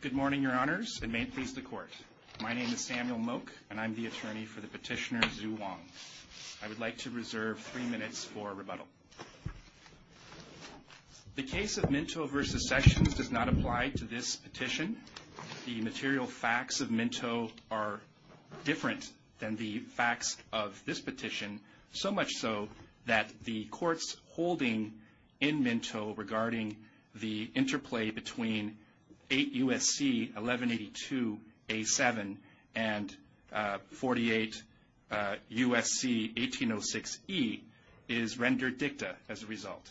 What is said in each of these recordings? Good morning, Your Honors, and may it please the Court, my name is Samuel Moak and I'm the attorney for the petitioner Zhu Wang. I would like to reserve three minutes for rebuttal. The case of Minto v. Sessions does not apply to this petition. The material facts of Minto are different than the facts of this petition, so much so that the Court's holding in Minto regarding the interplay between 8 U.S.C. 1182-A7 and 48 U.S.C. 1806-E is rendered dicta as a result.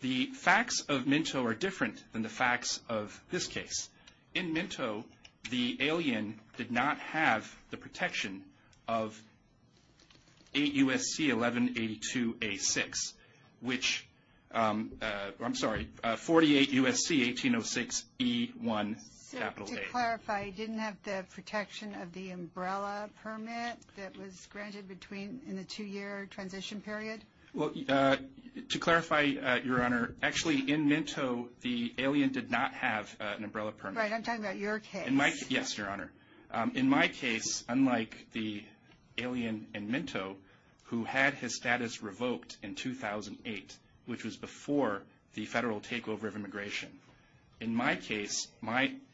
The facts of Minto are different than the facts of this case. In Minto, the alien did not have the protection of 8 U.S.C. 1182-A6, which, I'm sorry, 48 U.S.C. 1806-E1. So, to clarify, he didn't have the protection of the umbrella permit that was granted between, in the two-year transition period? Well, to clarify, Your Honor, actually, in Minto, the alien did not have an umbrella permit. Right, I'm talking about your case. Yes, Your Honor. In my case, unlike the alien in Minto, who had his status revoked in 2008, which was before the federal takeover of immigration. In my case,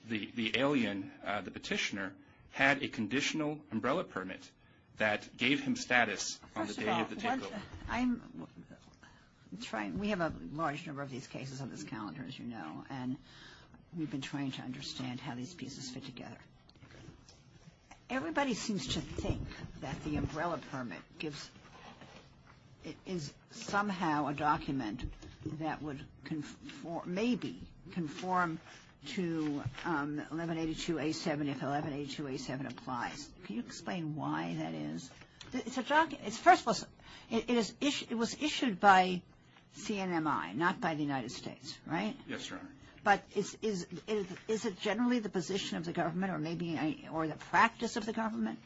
the alien, the petitioner, had a conditional umbrella permit that gave him status on the day of the takeover. We have a large number of these cases on this calendar, as you know, and we've been trying to understand how these pieces fit together. Everybody seems to think that the umbrella permit is somehow a document that would maybe conform to 1182-A7 if 1182-A7 applies. Can you explain why that is? It's a document. First of all, it was issued by CNMI, not by the United States, right? Yes, Your Honor. But is it generally the position of the government or maybe the practice of the government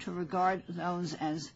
to regard those as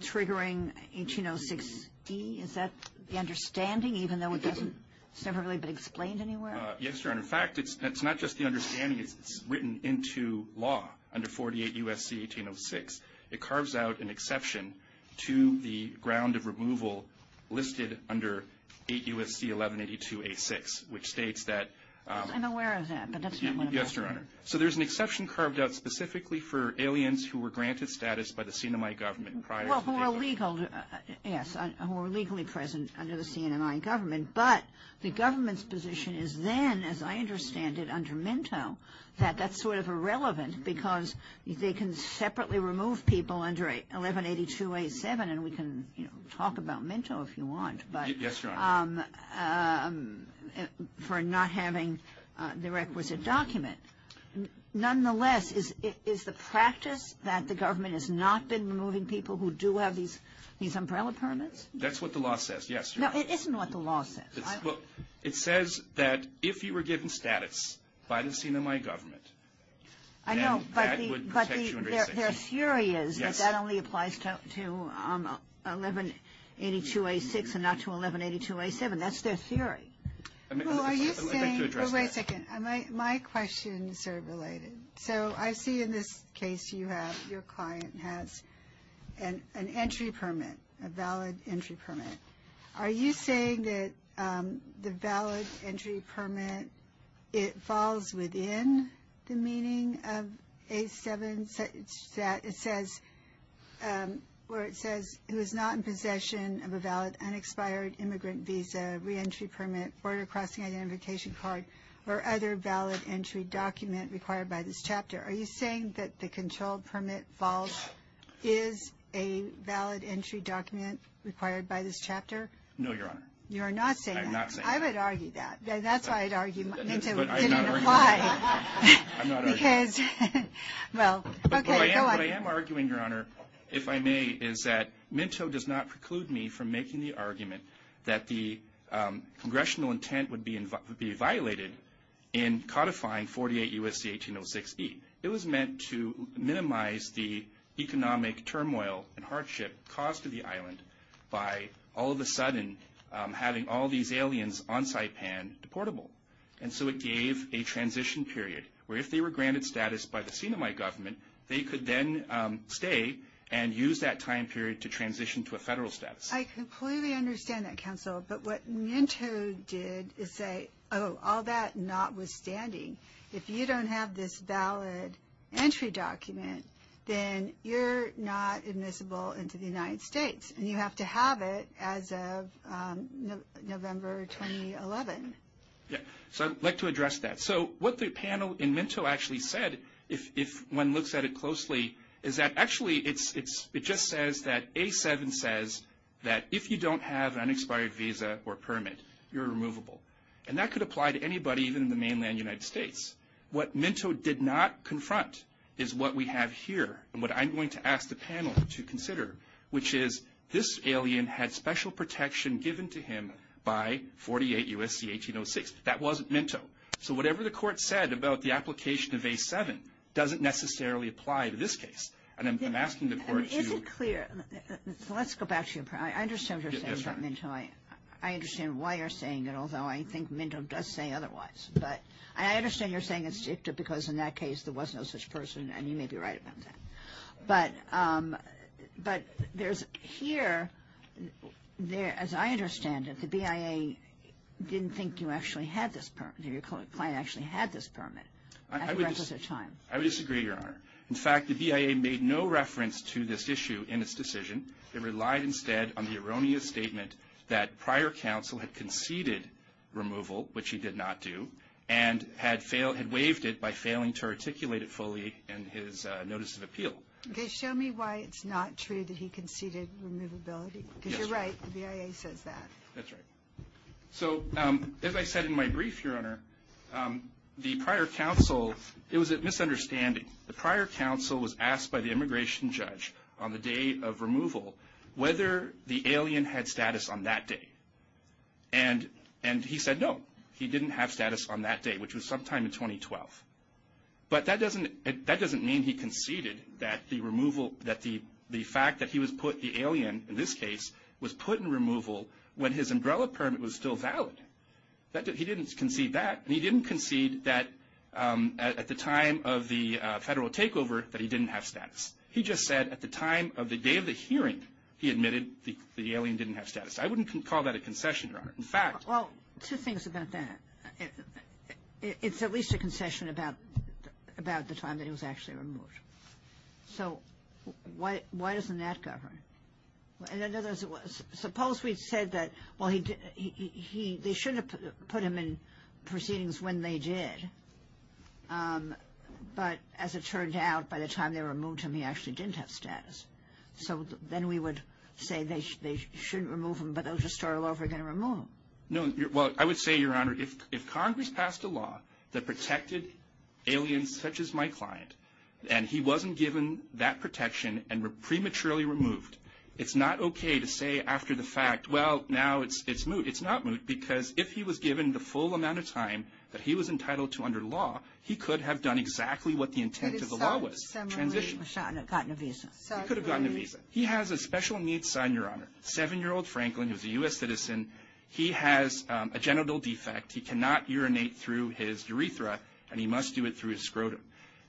triggering 1806-E? Is that the understanding, even though it doesn't – it's never really been explained anywhere? Yes, Your Honor. In fact, it's not just the understanding. It's written into law under 48 U.S.C. 1806. It carves out an exception to the ground of removal listed under 8 U.S.C. 1182-A6, which states that – I'm aware of that, but that's not what I'm talking about. Yes, Your Honor. So there's an exception carved out specifically for aliens who were granted status by the CNMI government prior to the takeover. Yes, who were legally present under the CNMI government. But the government's position is then, as I understand it, under Minto, that that's sort of irrelevant because they can separately remove people under 1182-A7, and we can talk about Minto if you want. Yes, Your Honor. For not having the requisite document. Nonetheless, is the practice that the government has not been removing people who do have these umbrella permits? That's what the law says, yes, Your Honor. No, it isn't what the law says. It says that if you were given status by the CNMI government, then that would protect you under 86. I know, but their theory is that that only applies to 1182-A6 and not to 1182-A7. That's their theory. Well, are you saying – Let me address that. No, wait a second. My question is sort of related. So I see in this case you have – your client has an entry permit, a valid entry permit. Are you saying that the valid entry permit, it falls within the meaning of A7, where it says who is not in possession of a valid unexpired immigrant visa, reentry permit, border crossing identification card, or other valid entry document required by this chapter? Are you saying that the control permit falls – is a valid entry document required by this chapter? No, Your Honor. You're not saying that? I'm not saying that. I would argue that. That's why I'd argue Minto didn't apply. I'm not arguing that. Because – well, okay, go on. What I am arguing, Your Honor, if I may, is that Minto does not preclude me from making the argument that the congressional intent would be violated in codifying 48 U.S.C. 1806E. It was meant to minimize the economic turmoil and hardship caused to the island by all of a sudden having all these aliens on Saipan deportable. And so it gave a transition period where if they were granted status by the Sinai government, they could then stay and use that time period to transition to a federal status. I completely understand that, counsel. But what Minto did is say, oh, all that notwithstanding, if you don't have this valid entry document, then you're not admissible into the United States, and you have to have it as of November 2011. So I'd like to address that. So what the panel in Minto actually said, if one looks at it closely, is that actually it just says that A7 says that if you don't have an unexpired visa or permit, you're removable. And that could apply to anybody even in the mainland United States. What Minto did not confront is what we have here and what I'm going to ask the panel to consider, which is this alien had special protection given to him by 48 U.S.C. 1806. That wasn't Minto. So whatever the court said about the application of A7 doesn't necessarily apply to this case. And I'm asking the court to ---- Is it clear? Let's go back to your point. I understand what you're saying about Minto. I understand why you're saying it, although I think Minto does say otherwise. But I understand you're saying it's dicta because in that case there was no such person, and you may be right about that. But here, as I understand it, the BIA didn't think you actually had this permit, or your client actually had this permit at the requisite time. I would disagree, Your Honor. In fact, the BIA made no reference to this issue in its decision. It relied instead on the erroneous statement that prior counsel had conceded removal, which he did not do, and had waived it by failing to articulate it fully in his notice of appeal. Okay, show me why it's not true that he conceded removability. Because you're right, the BIA says that. That's right. So as I said in my brief, Your Honor, the prior counsel, it was a misunderstanding. The prior counsel was asked by the immigration judge on the day of removal whether the alien had status on that day. And he said no, he didn't have status on that day, which was sometime in 2012. But that doesn't mean he conceded that the fact that he was put, the alien in this case, was put in removal when his umbrella permit was still valid. He didn't concede that. And he didn't concede that at the time of the federal takeover that he didn't have status. He just said at the time of the day of the hearing he admitted the alien didn't have status. I wouldn't call that a concession, Your Honor. In fact — Well, two things about that. It's at least a concession about the time that he was actually removed. So why doesn't that govern? In other words, suppose we said that, well, they shouldn't have put him in proceedings when they did. But as it turned out, by the time they removed him, he actually didn't have status. So then we would say they shouldn't remove him, but they'll just start all over again and remove him. No. Well, I would say, Your Honor, if Congress passed a law that protected aliens such as my client and he wasn't given that protection and prematurely removed, it's not okay to say after the fact, well, now it's moot. It's not moot because if he was given the full amount of time that he was entitled to under law, he could have done exactly what the intent of the law was, transition. He could have gotten a visa. He could have gotten a visa. He has a special needs sign, Your Honor. Seven-year-old Franklin is a U.S. citizen. He has a genital defect. He cannot urinate through his urethra, and he must do it through his scrotum.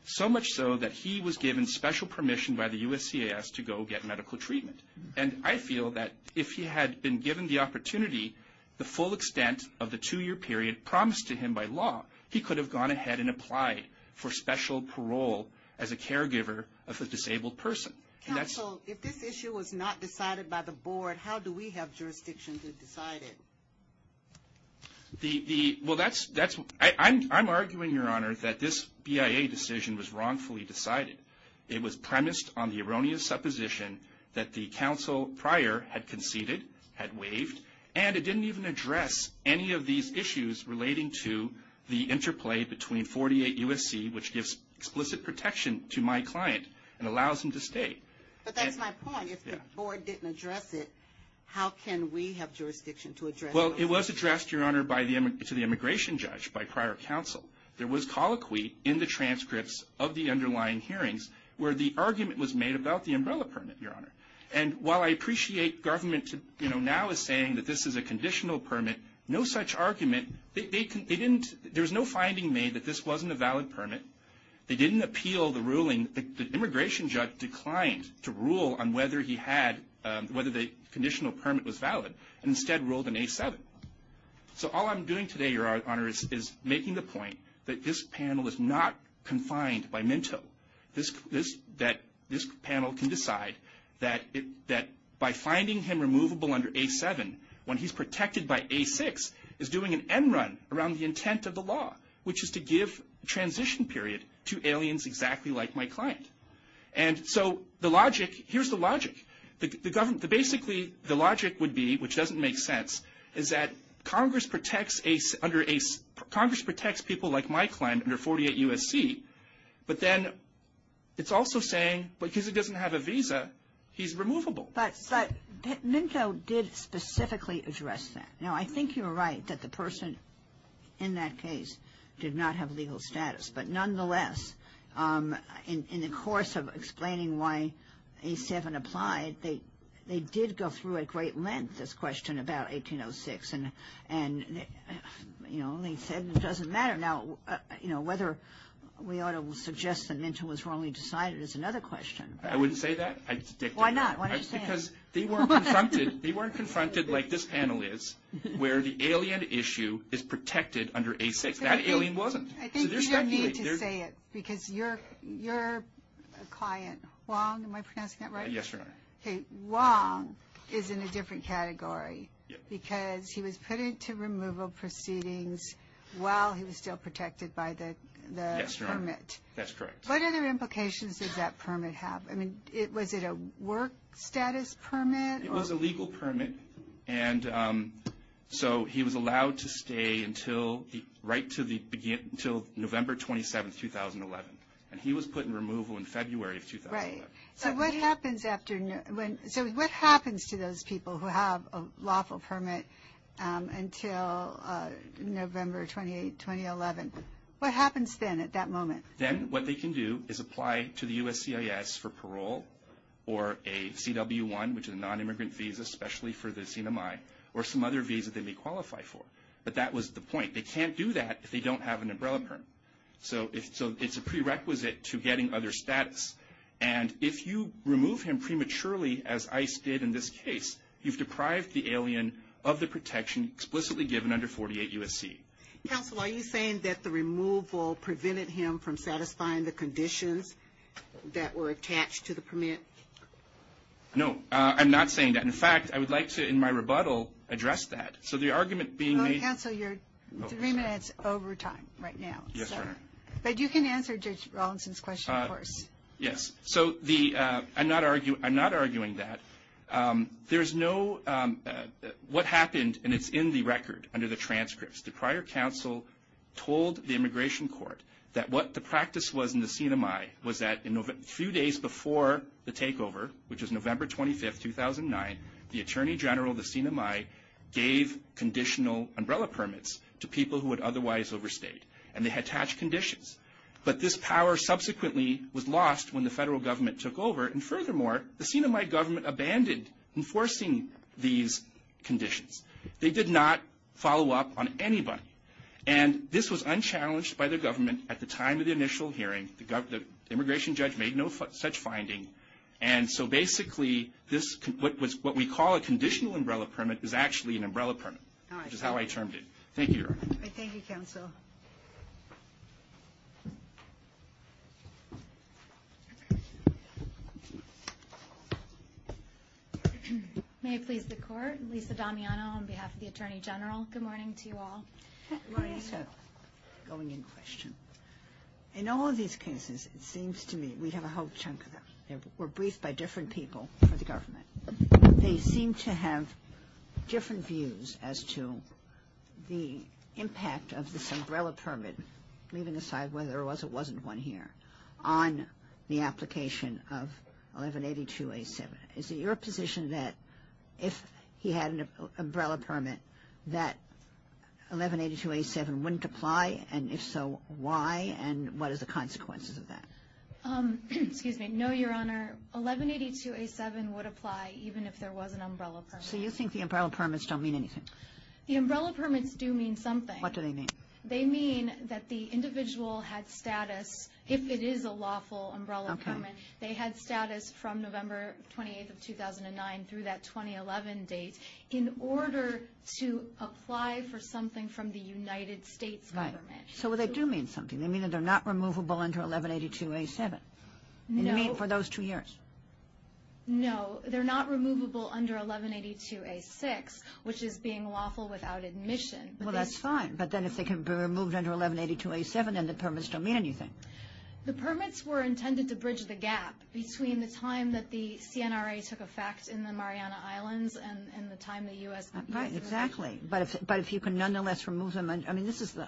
So much so that he was given special permission by the USCIS to go get medical treatment. And I feel that if he had been given the opportunity, the full extent of the two-year period promised to him by law, he could have gone ahead and applied for special parole as a caregiver of a disabled person. Counsel, if this issue was not decided by the board, how do we have jurisdiction to decide it? Well, I'm arguing, Your Honor, that this BIA decision was wrongfully decided. It was premised on the erroneous supposition that the counsel prior had conceded, had waived, and it didn't even address any of these issues relating to the interplay between 48 USC, which gives explicit protection to my client and allows him to stay. But that's my point. If the board didn't address it, how can we have jurisdiction to address it? Well, it was addressed, Your Honor, to the immigration judge by prior counsel. There was colloquy in the transcripts of the underlying hearings where the argument was made about the umbrella permit, Your Honor. And while I appreciate government now is saying that this is a conditional permit, no such argument, there was no finding made that this wasn't a valid permit. They didn't appeal the ruling. The immigration judge declined to rule on whether the conditional permit was valid and instead ruled an A7. So all I'm doing today, Your Honor, is making the point that this panel is not confined by Minto, that this panel can decide that by finding him removable under A7, when he's protected by A6, is doing an end run around the intent of the law, which is to give transition period to aliens exactly like my client. And so the logic, here's the logic. Basically, the logic would be, which doesn't make sense, is that Congress protects people like my client under 48 USC, but then it's also saying because he doesn't have a visa, he's removable. But Minto did specifically address that. Now, I think you're right that the person in that case did not have legal status. But nonetheless, in the course of explaining why A7 applied, they did go through at great length this question about 1806. And, you know, they said it doesn't matter. Now, you know, whether we ought to suggest that Minto was wrongly decided is another question. I wouldn't say that. Why not? Why don't you say it? Because they weren't confronted like this panel is, where the alien issue is protected under A6. That alien wasn't. I think you don't need to say it because your client, Wong, am I pronouncing that right? Yes, Your Honor. Okay. Wong is in a different category because he was put into removal proceedings while he was still protected by the permit. Yes, Your Honor. That's correct. What other implications does that permit have? I mean, was it a work status permit? It was a legal permit. And so he was allowed to stay until right to the beginning, until November 27, 2011. And he was put in removal in February of 2011. Right. So what happens to those people who have a lawful permit until November 28, 2011? What happens then at that moment? Then what they can do is apply to the USCIS for parole or a CW1, which is a nonimmigrant visa, especially for the CNMI, or some other visa they may qualify for. But that was the point. They can't do that if they don't have an umbrella permit. So it's a prerequisite to getting other status. And if you remove him prematurely, as ICE did in this case, you've deprived the alien of the protection explicitly given under 48 USC. Counsel, are you saying that the removal prevented him from satisfying the conditions that were attached to the permit? No, I'm not saying that. In fact, I would like to, in my rebuttal, address that. So the argument being made – Counsel, you're three minutes over time right now. Yes, Your Honor. But you can answer Judge Rawlinson's question, of course. Yes. So I'm not arguing that. There's no – what happened, and it's in the record under the transcripts, the prior counsel told the immigration court that what the practice was in the CNMI was that a few days before the takeover, which was November 25, 2009, the Attorney General of the CNMI gave conditional umbrella permits to people who would otherwise overstate. And they had attached conditions. But this power subsequently was lost when the federal government took over. And furthermore, the CNMI government abandoned enforcing these conditions. They did not follow up on anybody. And this was unchallenged by the government at the time of the initial hearing. The immigration judge made no such finding. And so basically, this – what we call a conditional umbrella permit is actually an umbrella permit. All right. Which is how I termed it. Thank you, Your Honor. All right. Thank you, counsel. May it please the Court. Lisa Damiano on behalf of the Attorney General. Good morning to you all. Good morning, sir. Going in question. In all of these cases, it seems to me we have a whole chunk of them. They were briefed by different people for the government. They seem to have different views as to the impact of this umbrella permit, leaving aside whether it was or wasn't one here, on the application of 1182A7. Is it your position that if he had an umbrella permit, that 1182A7 wouldn't apply? And if so, why? And what are the consequences of that? Excuse me. No, Your Honor. 1182A7 would apply even if there was an umbrella permit. So you think the umbrella permits don't mean anything? The umbrella permits do mean something. What do they mean? They mean that the individual had status, if it is a lawful umbrella permit, they had status from November 28th of 2009 through that 2011 date in order to apply for something from the United States government. Right. So they do mean something. They mean that they're not removable under 1182A7. No. They mean for those two years. No. They're not removable under 1182A6, which is being lawful without admission. Well, that's fine. But then if they can be removed under 1182A7, then the permits don't mean anything. The permits were intended to bridge the gap between the time that the CNRA took effect in the Mariana Islands and the time the U.S. Right, exactly. But if you can nonetheless remove them, I mean, this is the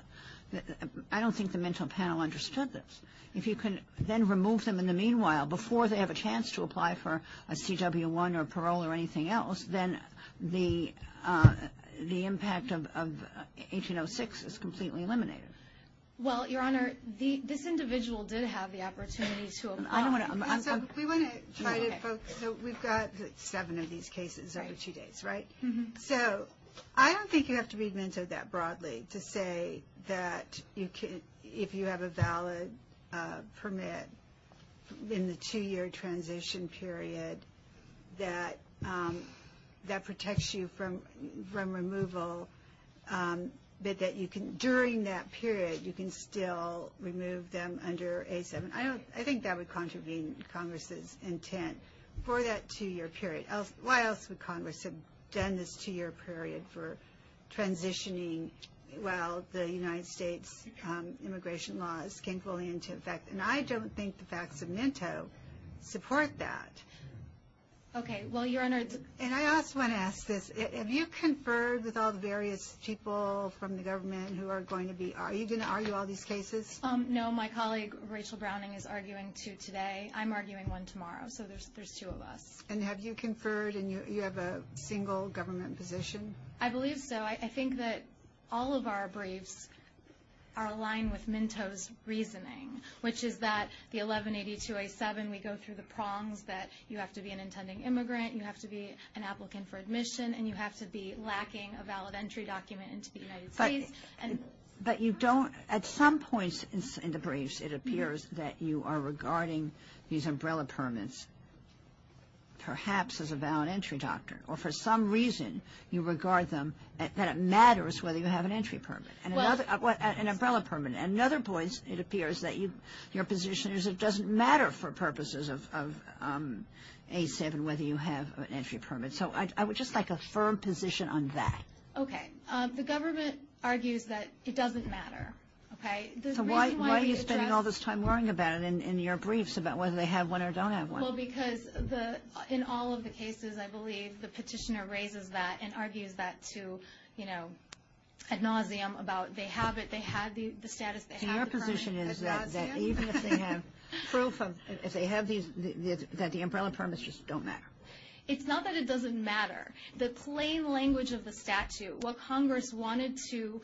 – I don't think the mental panel understood this. If you can then remove them in the meanwhile, before they have a chance to apply for a CW-1 or parole or anything else, then the impact of 1806 is completely eliminated. Well, Your Honor, this individual did have the opportunity to apply. I don't want to – We want to try to focus. We've got seven of these cases over two days, right? Mm-hmm. So I don't think you have to be mentored that broadly to say that if you have a valid permit in the two-year transition period that protects you from removal, that during that period you can still remove them under A7. I think that would contravene Congress's intent for that two-year period. Why else would Congress have done this two-year period for transitioning while the United States immigration laws came fully into effect? And I don't think the facts of Minto support that. Okay. Well, Your Honor, it's – And I also want to ask this. Have you conferred with all the various people from the government who are going to be – are you going to argue all these cases? No. My colleague, Rachel Browning, is arguing two today. I'm arguing one tomorrow. So there's two of us. And have you conferred and you have a single government position? I believe so. I think that all of our briefs are aligned with Minto's reasoning, which is that the 1182A7, we go through the prongs that you have to be an intending immigrant, you have to be an applicant for admission, and you have to be lacking a valid entry document into the United States. But you don't – at some points in the briefs, it appears that you are regarding these umbrella permits perhaps as a valid entry document, or for some reason you regard them – that it matters whether you have an entry permit. An umbrella permit. At another point, it appears that your position is it doesn't matter for purposes of A7 whether you have an entry permit. So I would just like a firm position on that. Okay. The government argues that it doesn't matter. Okay. So why are you spending all this time worrying about it in your briefs, about whether they have one or don't have one? Well, because in all of the cases, I believe the petitioner raises that and argues that to, you know, ad nauseum about they have it, they have the status, they have the permit, ad nauseum. So your position is that even if they have proof of – if they have these, that the umbrella permits just don't matter? It's not that it doesn't matter. The plain language of the statute, what Congress wanted to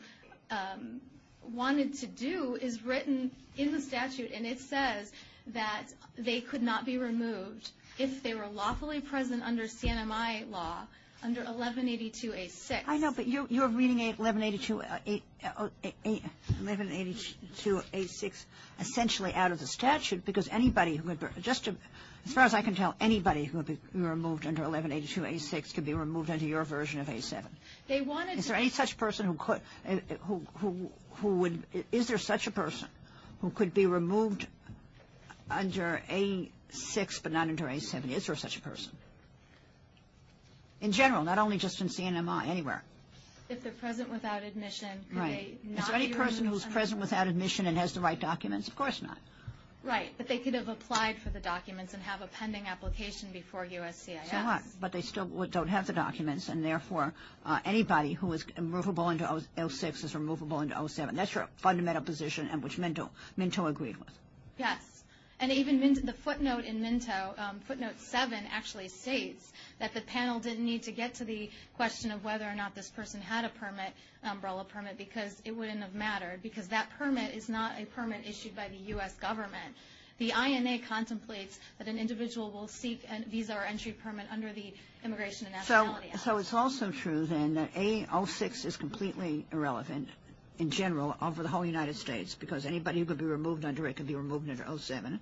do is written in the statute, and it says that they could not be removed if they were lawfully present under CNMI law, under 1182A6. I know, but you're reading 1182A6 essentially out of the statute, because anybody – just as far as I can tell, anybody who would be removed under 1182A6 could be removed under your version of A7. Is there any such person who would – is there such a person who could be removed under A6 but not under A7? Is there such a person? In general, not only just in CNMI, anywhere. If they're present without admission, could they not be removed? Right. Is there any person who's present without admission and has the right documents? Of course not. Right. But they could have applied for the documents and have a pending application before USCIS. So what? But they still don't have the documents, and therefore anybody who is removable under A6 is removable under A7. That's your fundamental position, which Minto agreed with. Yes. And even the footnote in Minto, footnote 7, actually states that the panel didn't need to get to the question of whether or not this person had a permit, an umbrella permit, because it wouldn't have mattered, because that permit is not a permit issued by the U.S. government. The INA contemplates that an individual will seek a visa or entry permit under the Immigration and Nationality Act. So it's also true, then, that A06 is completely irrelevant in general over the whole United States because anybody who could be removed under it could be removed under A07.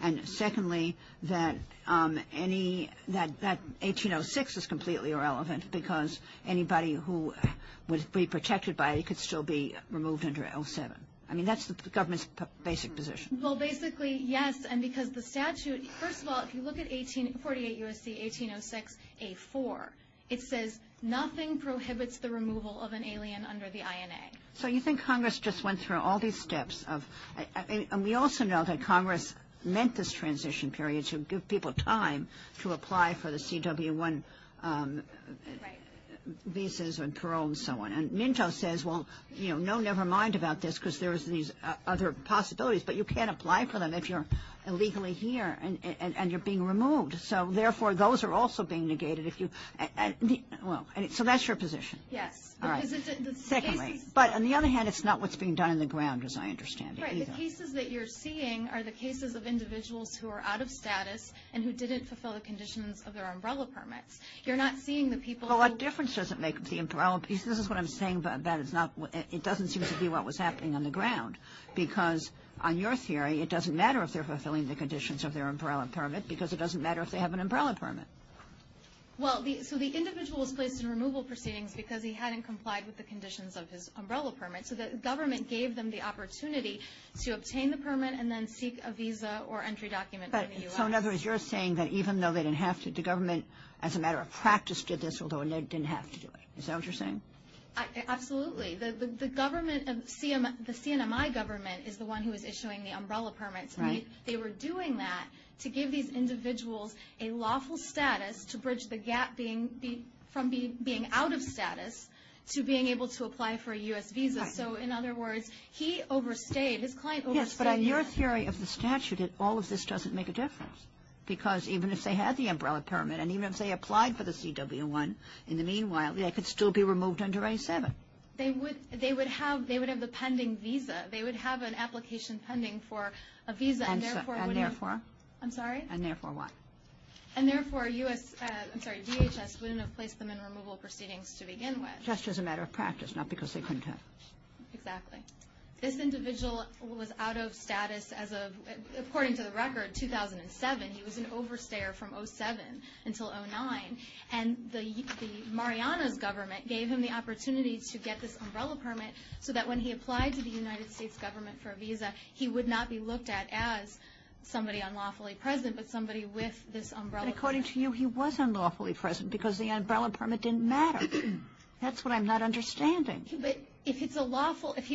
And secondly, that 1806 is completely irrelevant because anybody who would be protected by it could still be removed under A07. I mean, that's the government's basic position. Well, basically, yes, and because the statute, first of all, if you look at 48 U.S.C. 1806, A4, it says nothing prohibits the removal of an alien under the INA. So you think Congress just went through all these steps of – and we also know that Congress meant this transition period to give people time to apply for the CW1 visas and parole and so on. And Minto says, well, you know, never mind about this because there's these other possibilities, but you can't apply for them if you're illegally here and you're being removed. So, therefore, those are also being negated if you – well, so that's your position. Yes. All right. But on the other hand, it's not what's being done on the ground, as I understand it. Right. The cases that you're seeing are the cases of individuals who are out of status and who didn't fulfill the conditions of their umbrella permits. You're not seeing the people – Well, what difference does it make if the umbrella – this is what I'm saying, but that is not – it doesn't seem to be what was happening on the ground because, on your theory, it doesn't matter if they're fulfilling the conditions of their umbrella permit because it doesn't matter if they have an umbrella permit. Well, so the individual was placed in removal proceedings because he hadn't complied with the conditions of his umbrella permit. So the government gave them the opportunity to obtain the permit and then seek a visa or entry document from the U.S. So, in other words, you're saying that even though they didn't have to, the government, as a matter of practice, did this, although it didn't have to do it. Is that what you're saying? Absolutely. The government – the CNMI government is the one who is issuing the umbrella permits. Right. They were doing that to give these individuals a lawful status to bridge the gap from being out of status to being able to apply for a U.S. visa. Right. So, in other words, he overstayed. His client overstayed. Yes, but in your theory of the statute, all of this doesn't make a difference because even if they had the umbrella permit and even if they applied for the CW-1, in the meanwhile, they could still be removed under A-7. They would have the pending visa. They would have an application pending for a visa, and therefore would have – And therefore? I'm sorry? And therefore what? And therefore, DHS wouldn't have placed them in removal proceedings to begin with. Just as a matter of practice, not because they couldn't have. Exactly. This individual was out of status as of – according to the record, 2007, he was an overstayer from O-7 until O-9. And Mariana's government gave him the opportunity to get this umbrella permit so that when he applied to the United States government for a visa, he would not be looked at as somebody unlawfully present, but somebody with this umbrella permit. According to you, he was unlawfully present because the umbrella permit didn't matter. That's what I'm not understanding. If he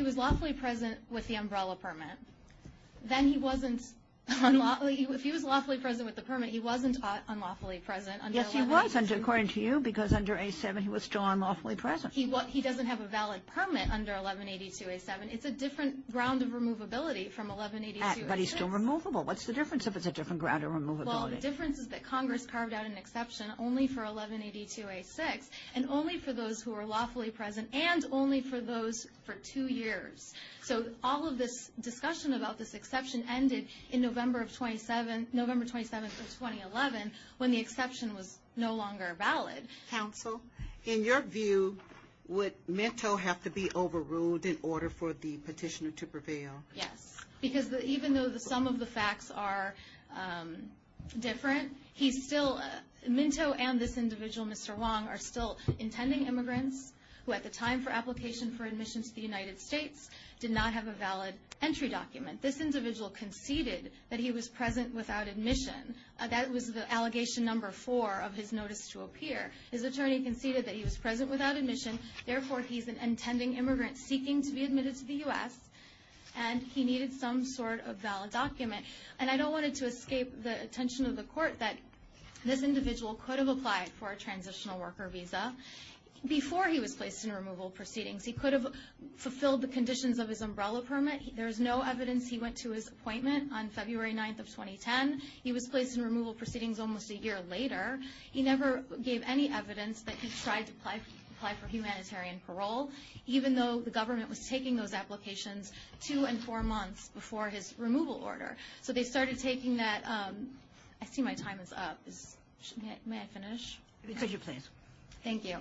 was lawfully present with the umbrella permit, then he wasn't – if he was lawfully present with the permit, he wasn't unlawfully present under 1182. Yes, he was, according to you, because under A-7 he was still unlawfully present. He doesn't have a valid permit under 1182-A-7. It's a different ground of removability from 1182-A-6. But he's still removable. What's the difference if it's a different ground of removability? Well, the difference is that Congress carved out an exception only for 1182-A-6 and only for those who are lawfully present and only for those for two years. So all of this discussion about this exception ended in November 27th of 2011 when the exception was no longer valid. Counsel, in your view, would Minto have to be overruled in order for the petitioner to prevail? Yes, because even though some of the facts are different, he's still – for example, intending immigrants who at the time for application for admission to the United States did not have a valid entry document. This individual conceded that he was present without admission. That was the allegation number four of his notice to appear. His attorney conceded that he was present without admission. Therefore, he's an intending immigrant seeking to be admitted to the U.S. and he needed some sort of valid document. And I don't want to escape the attention of the Court that this individual could have applied for a transitional worker visa before he was placed in removal proceedings. He could have fulfilled the conditions of his umbrella permit. There is no evidence he went to his appointment on February 9th of 2010. He was placed in removal proceedings almost a year later. He never gave any evidence that he tried to apply for humanitarian parole, even though the government was taking those applications two and four months before his removal order. So they started taking that – I see my time is up. May I finish? Please. Thank you.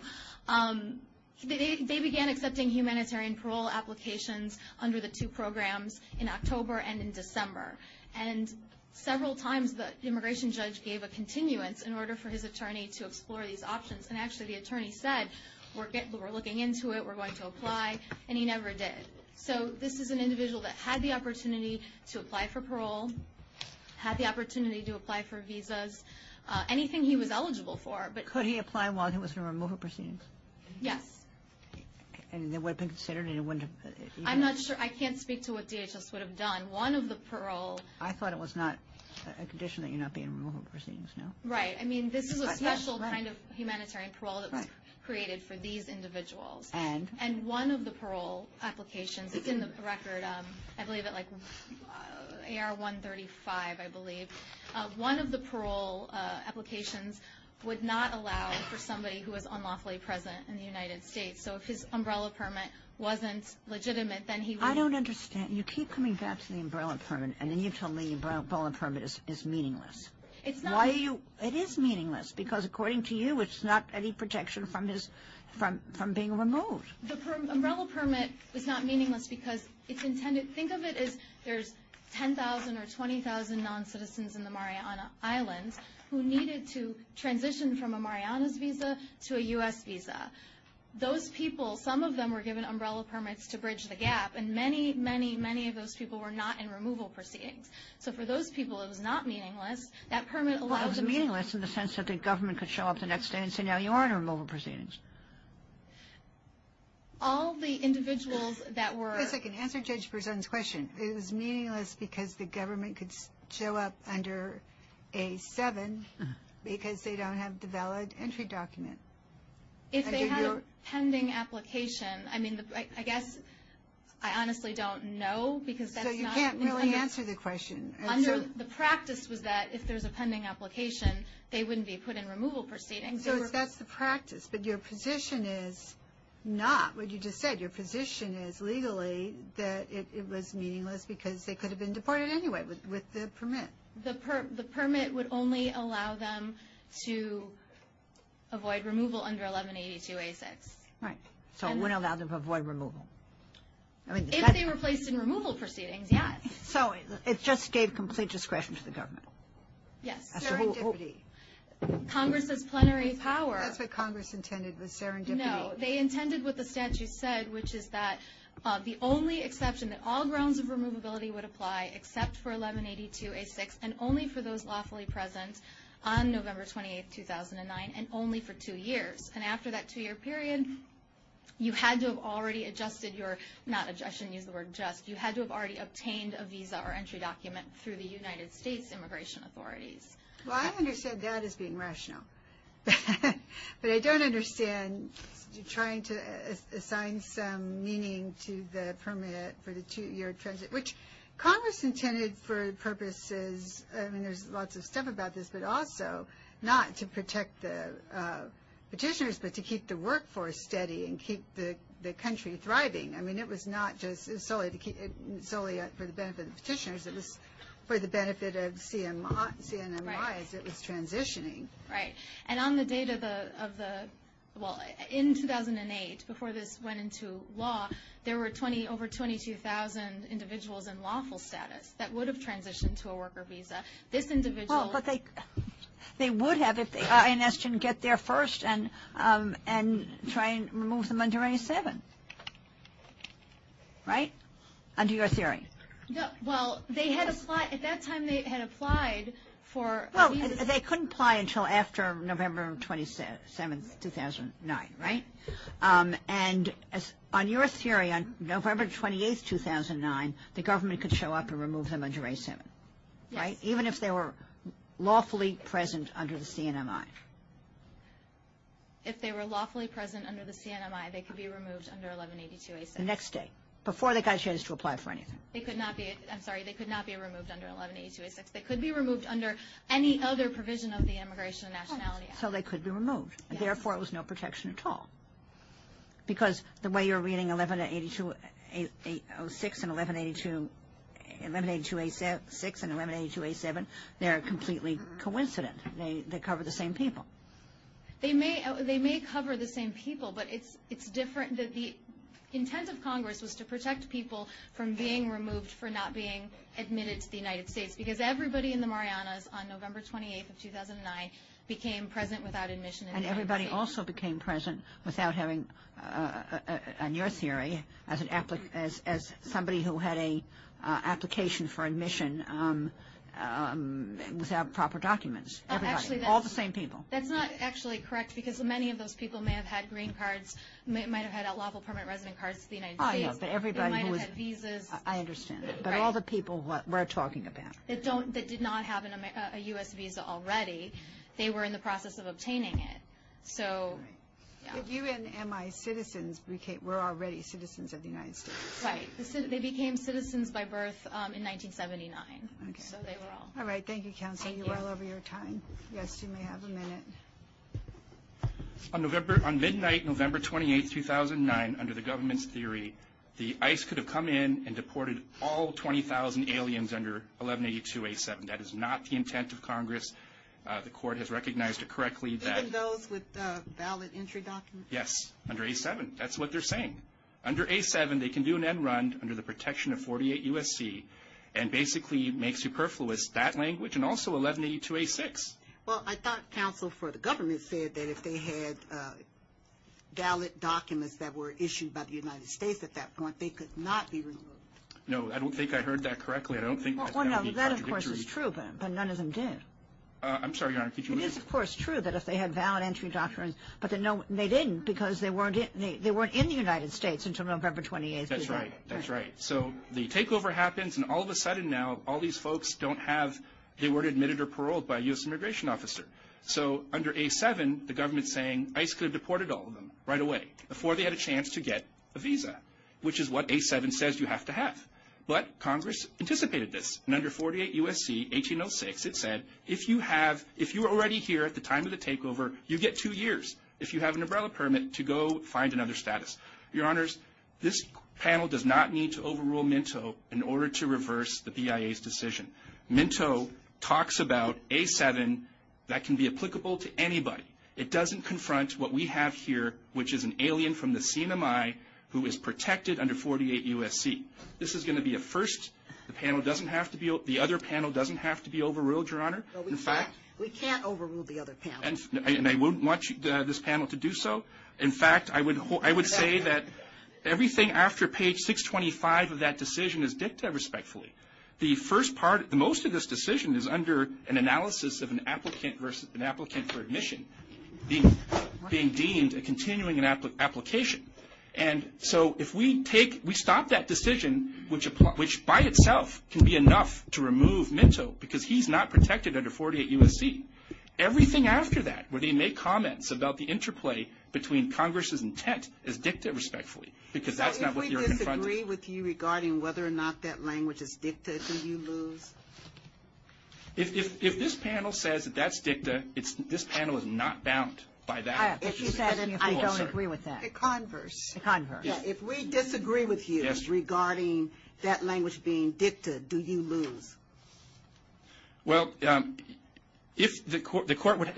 They began accepting humanitarian parole applications under the two programs in October and in December. And several times the immigration judge gave a continuance in order for his attorney to explore these options. And actually the attorney said, we're looking into it, we're going to apply, and he never did. He had the opportunity to apply for visas, anything he was eligible for. Could he apply while he was in removal proceedings? Yes. And it would have been considered? I'm not sure. I can't speak to what DHS would have done. One of the parole – I thought it was not a condition that you're not being in removal proceedings, no? Right. I mean, this is a special kind of humanitarian parole that was created for these individuals. And? And one of the parole applications – it's in the record, I believe at like AR-135, I believe. One of the parole applications would not allow for somebody who was unlawfully present in the United States. So if his umbrella permit wasn't legitimate, then he would – I don't understand. You keep coming back to the umbrella permit, and then you tell me the umbrella permit is meaningless. It's not – The umbrella permit is not meaningless because it's intended – think of it as there's 10,000 or 20,000 non-citizens in the Mariana Islands who needed to transition from a Mariana's visa to a U.S. visa. Those people, some of them were given umbrella permits to bridge the gap, and many, many, many of those people were not in removal proceedings. So for those people, it was not meaningless. That permit allows – Well, it was meaningless in the sense that the government could show up the next day and say, now you are in removal proceedings. All the individuals that were – Just a second. Answer Judge Berzon's question. It was meaningless because the government could show up under A-7 because they don't have the valid entry document. If they had a pending application, I mean, I guess I honestly don't know because that's not – So you can't really answer the question. Under – the practice was that if there's a pending application, they wouldn't be put in removal proceedings. So that's the practice. But your position is not what you just said. Your position is legally that it was meaningless because they could have been deported anyway with the permit. The permit would only allow them to avoid removal under 1182-A-6. Right. So it wouldn't allow them to avoid removal. If they were placed in removal proceedings, yes. So it just gave complete discretion to the government. Yes. Serendipity. Congress's plenary power. That's what Congress intended was serendipity. No, they intended what the statute said, which is that the only exception that all grounds of removability would apply except for 1182-A-6 and only for those lawfully present on November 28, 2009, and only for two years. And after that two-year period, you had to have already adjusted your – not adjusted, I shouldn't use the word just. You had to have already obtained a visa or entry document through the United States Immigration Authorities. Well, I understand that as being rational. But I don't understand trying to assign some meaning to the permit for the two-year transit, which Congress intended for purposes – I mean, there's lots of stuff about this, but also not to protect the petitioners but to keep the workforce steady and keep the country thriving. I mean, it was not just solely for the benefit of the petitioners. It was for the benefit of CNMI as it was transitioning. Right. And on the date of the – well, in 2008, before this went into law, there were over 22,000 individuals in lawful status that would have transitioned to a worker visa. This individual – they would have if the INS didn't get there first and try and remove them under A7. Right? Under your theory. Well, they had applied – at that time they had applied for a visa. Well, they couldn't apply until after November 27, 2009. Right? And on your theory, on November 28, 2009, the government could show up and remove them under A7. Yes. Even if they were lawfully present under the CNMI. If they were lawfully present under the CNMI, they could be removed under 1182A6. The next day, before they got a chance to apply for anything. They could not be – I'm sorry. They could not be removed under 1182A6. They could be removed under any other provision of the Immigration and Nationality Act. So they could be removed. Yes. Because the way you're reading 1182A6 and 1182A7, they're completely coincident. They cover the same people. They may cover the same people, but it's different. The intent of Congress was to protect people from being removed for not being admitted to the United States because everybody in the Marianas on November 28, 2009 became present without admission. And everybody also became present without having, on your theory, as somebody who had an application for admission without proper documents. Everybody. All the same people. That's not actually correct because many of those people may have had green cards, might have had lawful permanent resident cards to the United States. I know, but everybody who was – They might have had visas. I understand. But all the people we're talking about. That did not have a U.S. visa already. They were in the process of obtaining it. So, yeah. If you and my citizens were already citizens of the United States. Right. They became citizens by birth in 1979. Okay. So they were all. All right. Thank you, Counsel. Thank you. You're well over your time. Yes, you may have a minute. On midnight November 28, 2009, under the government's theory, the ICE could have come in and deported all 20,000 aliens under 1182A7. That is not the intent of Congress. The court has recognized correctly that. Even those with valid entry documents? Yes. Under A7. That's what they're saying. Under A7, they can do an end run under the protection of 48 U.S.C. and basically make superfluous that language and also 1182A6. Well, I thought counsel for the government said that if they had valid documents that were issued by the United States at that point, they could not be removed. No, I don't think I heard that correctly. I don't think that would be contradictory. That, of course, is true, but none of them did. I'm sorry, Your Honor. Could you repeat? It is, of course, true that if they had valid entry documents, but they didn't because they weren't in the United States until November 28, 2009. That's right. That's right. So the takeover happens, and all of a sudden now all these folks don't have, they weren't admitted or paroled by a U.S. immigration officer. So under A7, the government's saying ICE could have deported all of them right away before they had a chance to get a visa, which is what A7 says you have to have. But Congress anticipated this. And under 48 U.S.C., 1806, it said if you were already here at the time of the takeover, you get two years if you have an umbrella permit to go find another status. Your Honors, this panel does not need to overrule Minto in order to reverse the BIA's decision. Minto talks about A7. That can be applicable to anybody. It doesn't confront what we have here, which is an alien from the CNMI who is protected under 48 U.S.C. This is going to be a first. The other panel doesn't have to be overruled, Your Honor. We can't overrule the other panel. And I wouldn't want this panel to do so. In fact, I would say that everything after page 625 of that decision is dicta, respectfully. The most of this decision is under an analysis of an applicant for admission being deemed a continuing application. And so if we stop that decision, which by itself can be enough to remove Minto, because he's not protected under 48 U.S.C., everything after that, where they make comments about the interplay between Congress's intent, is dicta, respectfully. Because that's not what you're confronting. So if we disagree with you regarding whether or not that language is dicta, do you lose? If this panel says that that's dicta, this panel is not bound by that. I don't agree with that. A converse. A converse. If we disagree with you regarding that language being dicta, do you lose? Well, in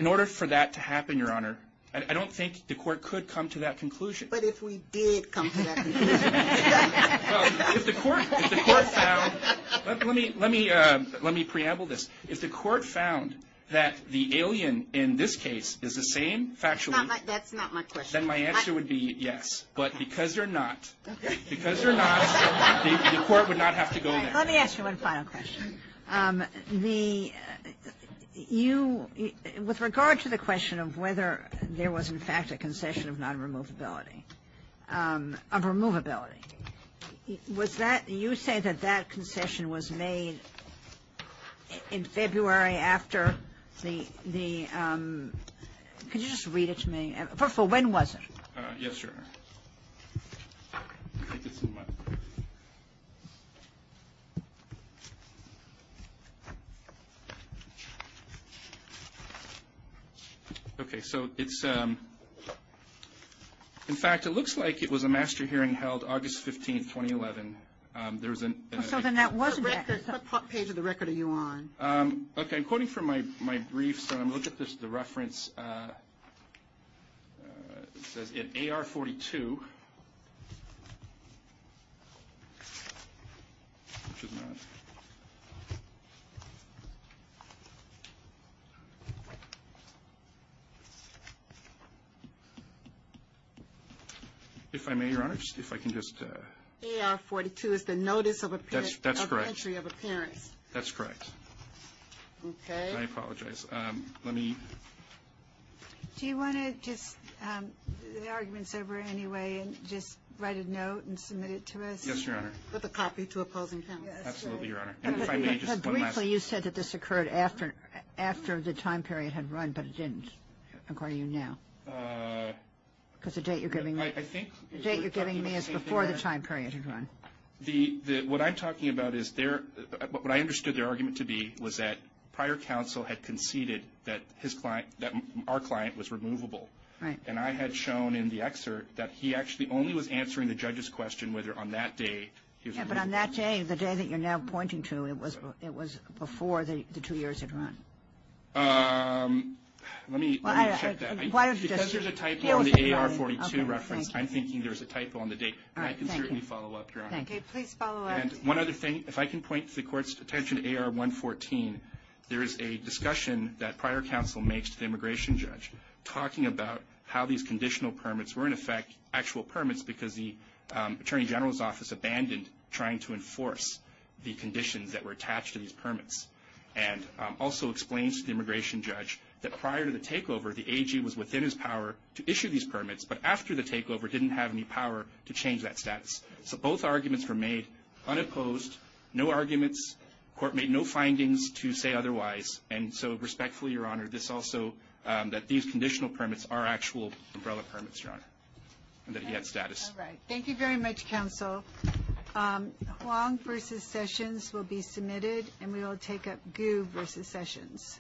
order for that to happen, Your Honor, I don't think the court could come to that conclusion. But if we did come to that conclusion. If the court found. Let me preamble this. If the court found that the alien in this case is the same, factually. That's not my question. Then my answer would be yes. But because they're not. Because they're not, the court would not have to go there. Let me ask you one final question. With regard to the question of whether there was in fact a concession of non-removability, of removability, was that. You say that that concession was made in February after the. Could you just read it to me? First of all, when was it? Yes, Your Honor. Thank you so much. Okay. So it's. In fact, it looks like it was a master hearing held August 15, 2011. There was an. So then that wasn't. What page of the record are you on? Okay. I'm quoting from my briefs. Look at the reference. It says in AR-42. If I may, Your Honor, if I can just. AR-42 is the notice of appearance. That's correct. Okay. I apologize. Let me. Do you want to just. The arguments over anyway and just write a note and submit it to us. Yes, Your Honor. With a copy to opposing counsel. Absolutely, Your Honor. And if I may just. Briefly, you said that this occurred after after the time period had run, but it didn't. According to you now. Because the date you're giving me. I think. The date you're giving me is before the time period had run. The what I'm talking about is there. But what I understood their argument to be was that prior counsel had conceded that his client that our client was removable. Right. And I had shown in the excerpt that he actually only was answering the judge's question whether on that day. But on that day, the day that you're now pointing to, it was it was before the two years had run. Let me check that. Because there's a typo on the AR-42 reference. I'm thinking there's a typo on the date. I can certainly follow up. Okay, please follow up. And one other thing, if I can point the court's attention to AR-114, there is a discussion that prior counsel makes to the immigration judge talking about how these conditional permits were in effect actual permits because the attorney general's office abandoned trying to enforce the conditions that were attached to these permits. And also explains to the immigration judge that prior to the takeover, the AG was within his power to issue these permits. But after the takeover, didn't have any power to change that status. So both arguments were made unopposed, no arguments. Court made no findings to say otherwise. And so respectfully, Your Honor, this also that these conditional permits are actual umbrella permits, Your Honor, and that he had status. All right. Thank you very much, counsel. Huang v. Sessions will be submitted, and we will take up Gu v. Sessions.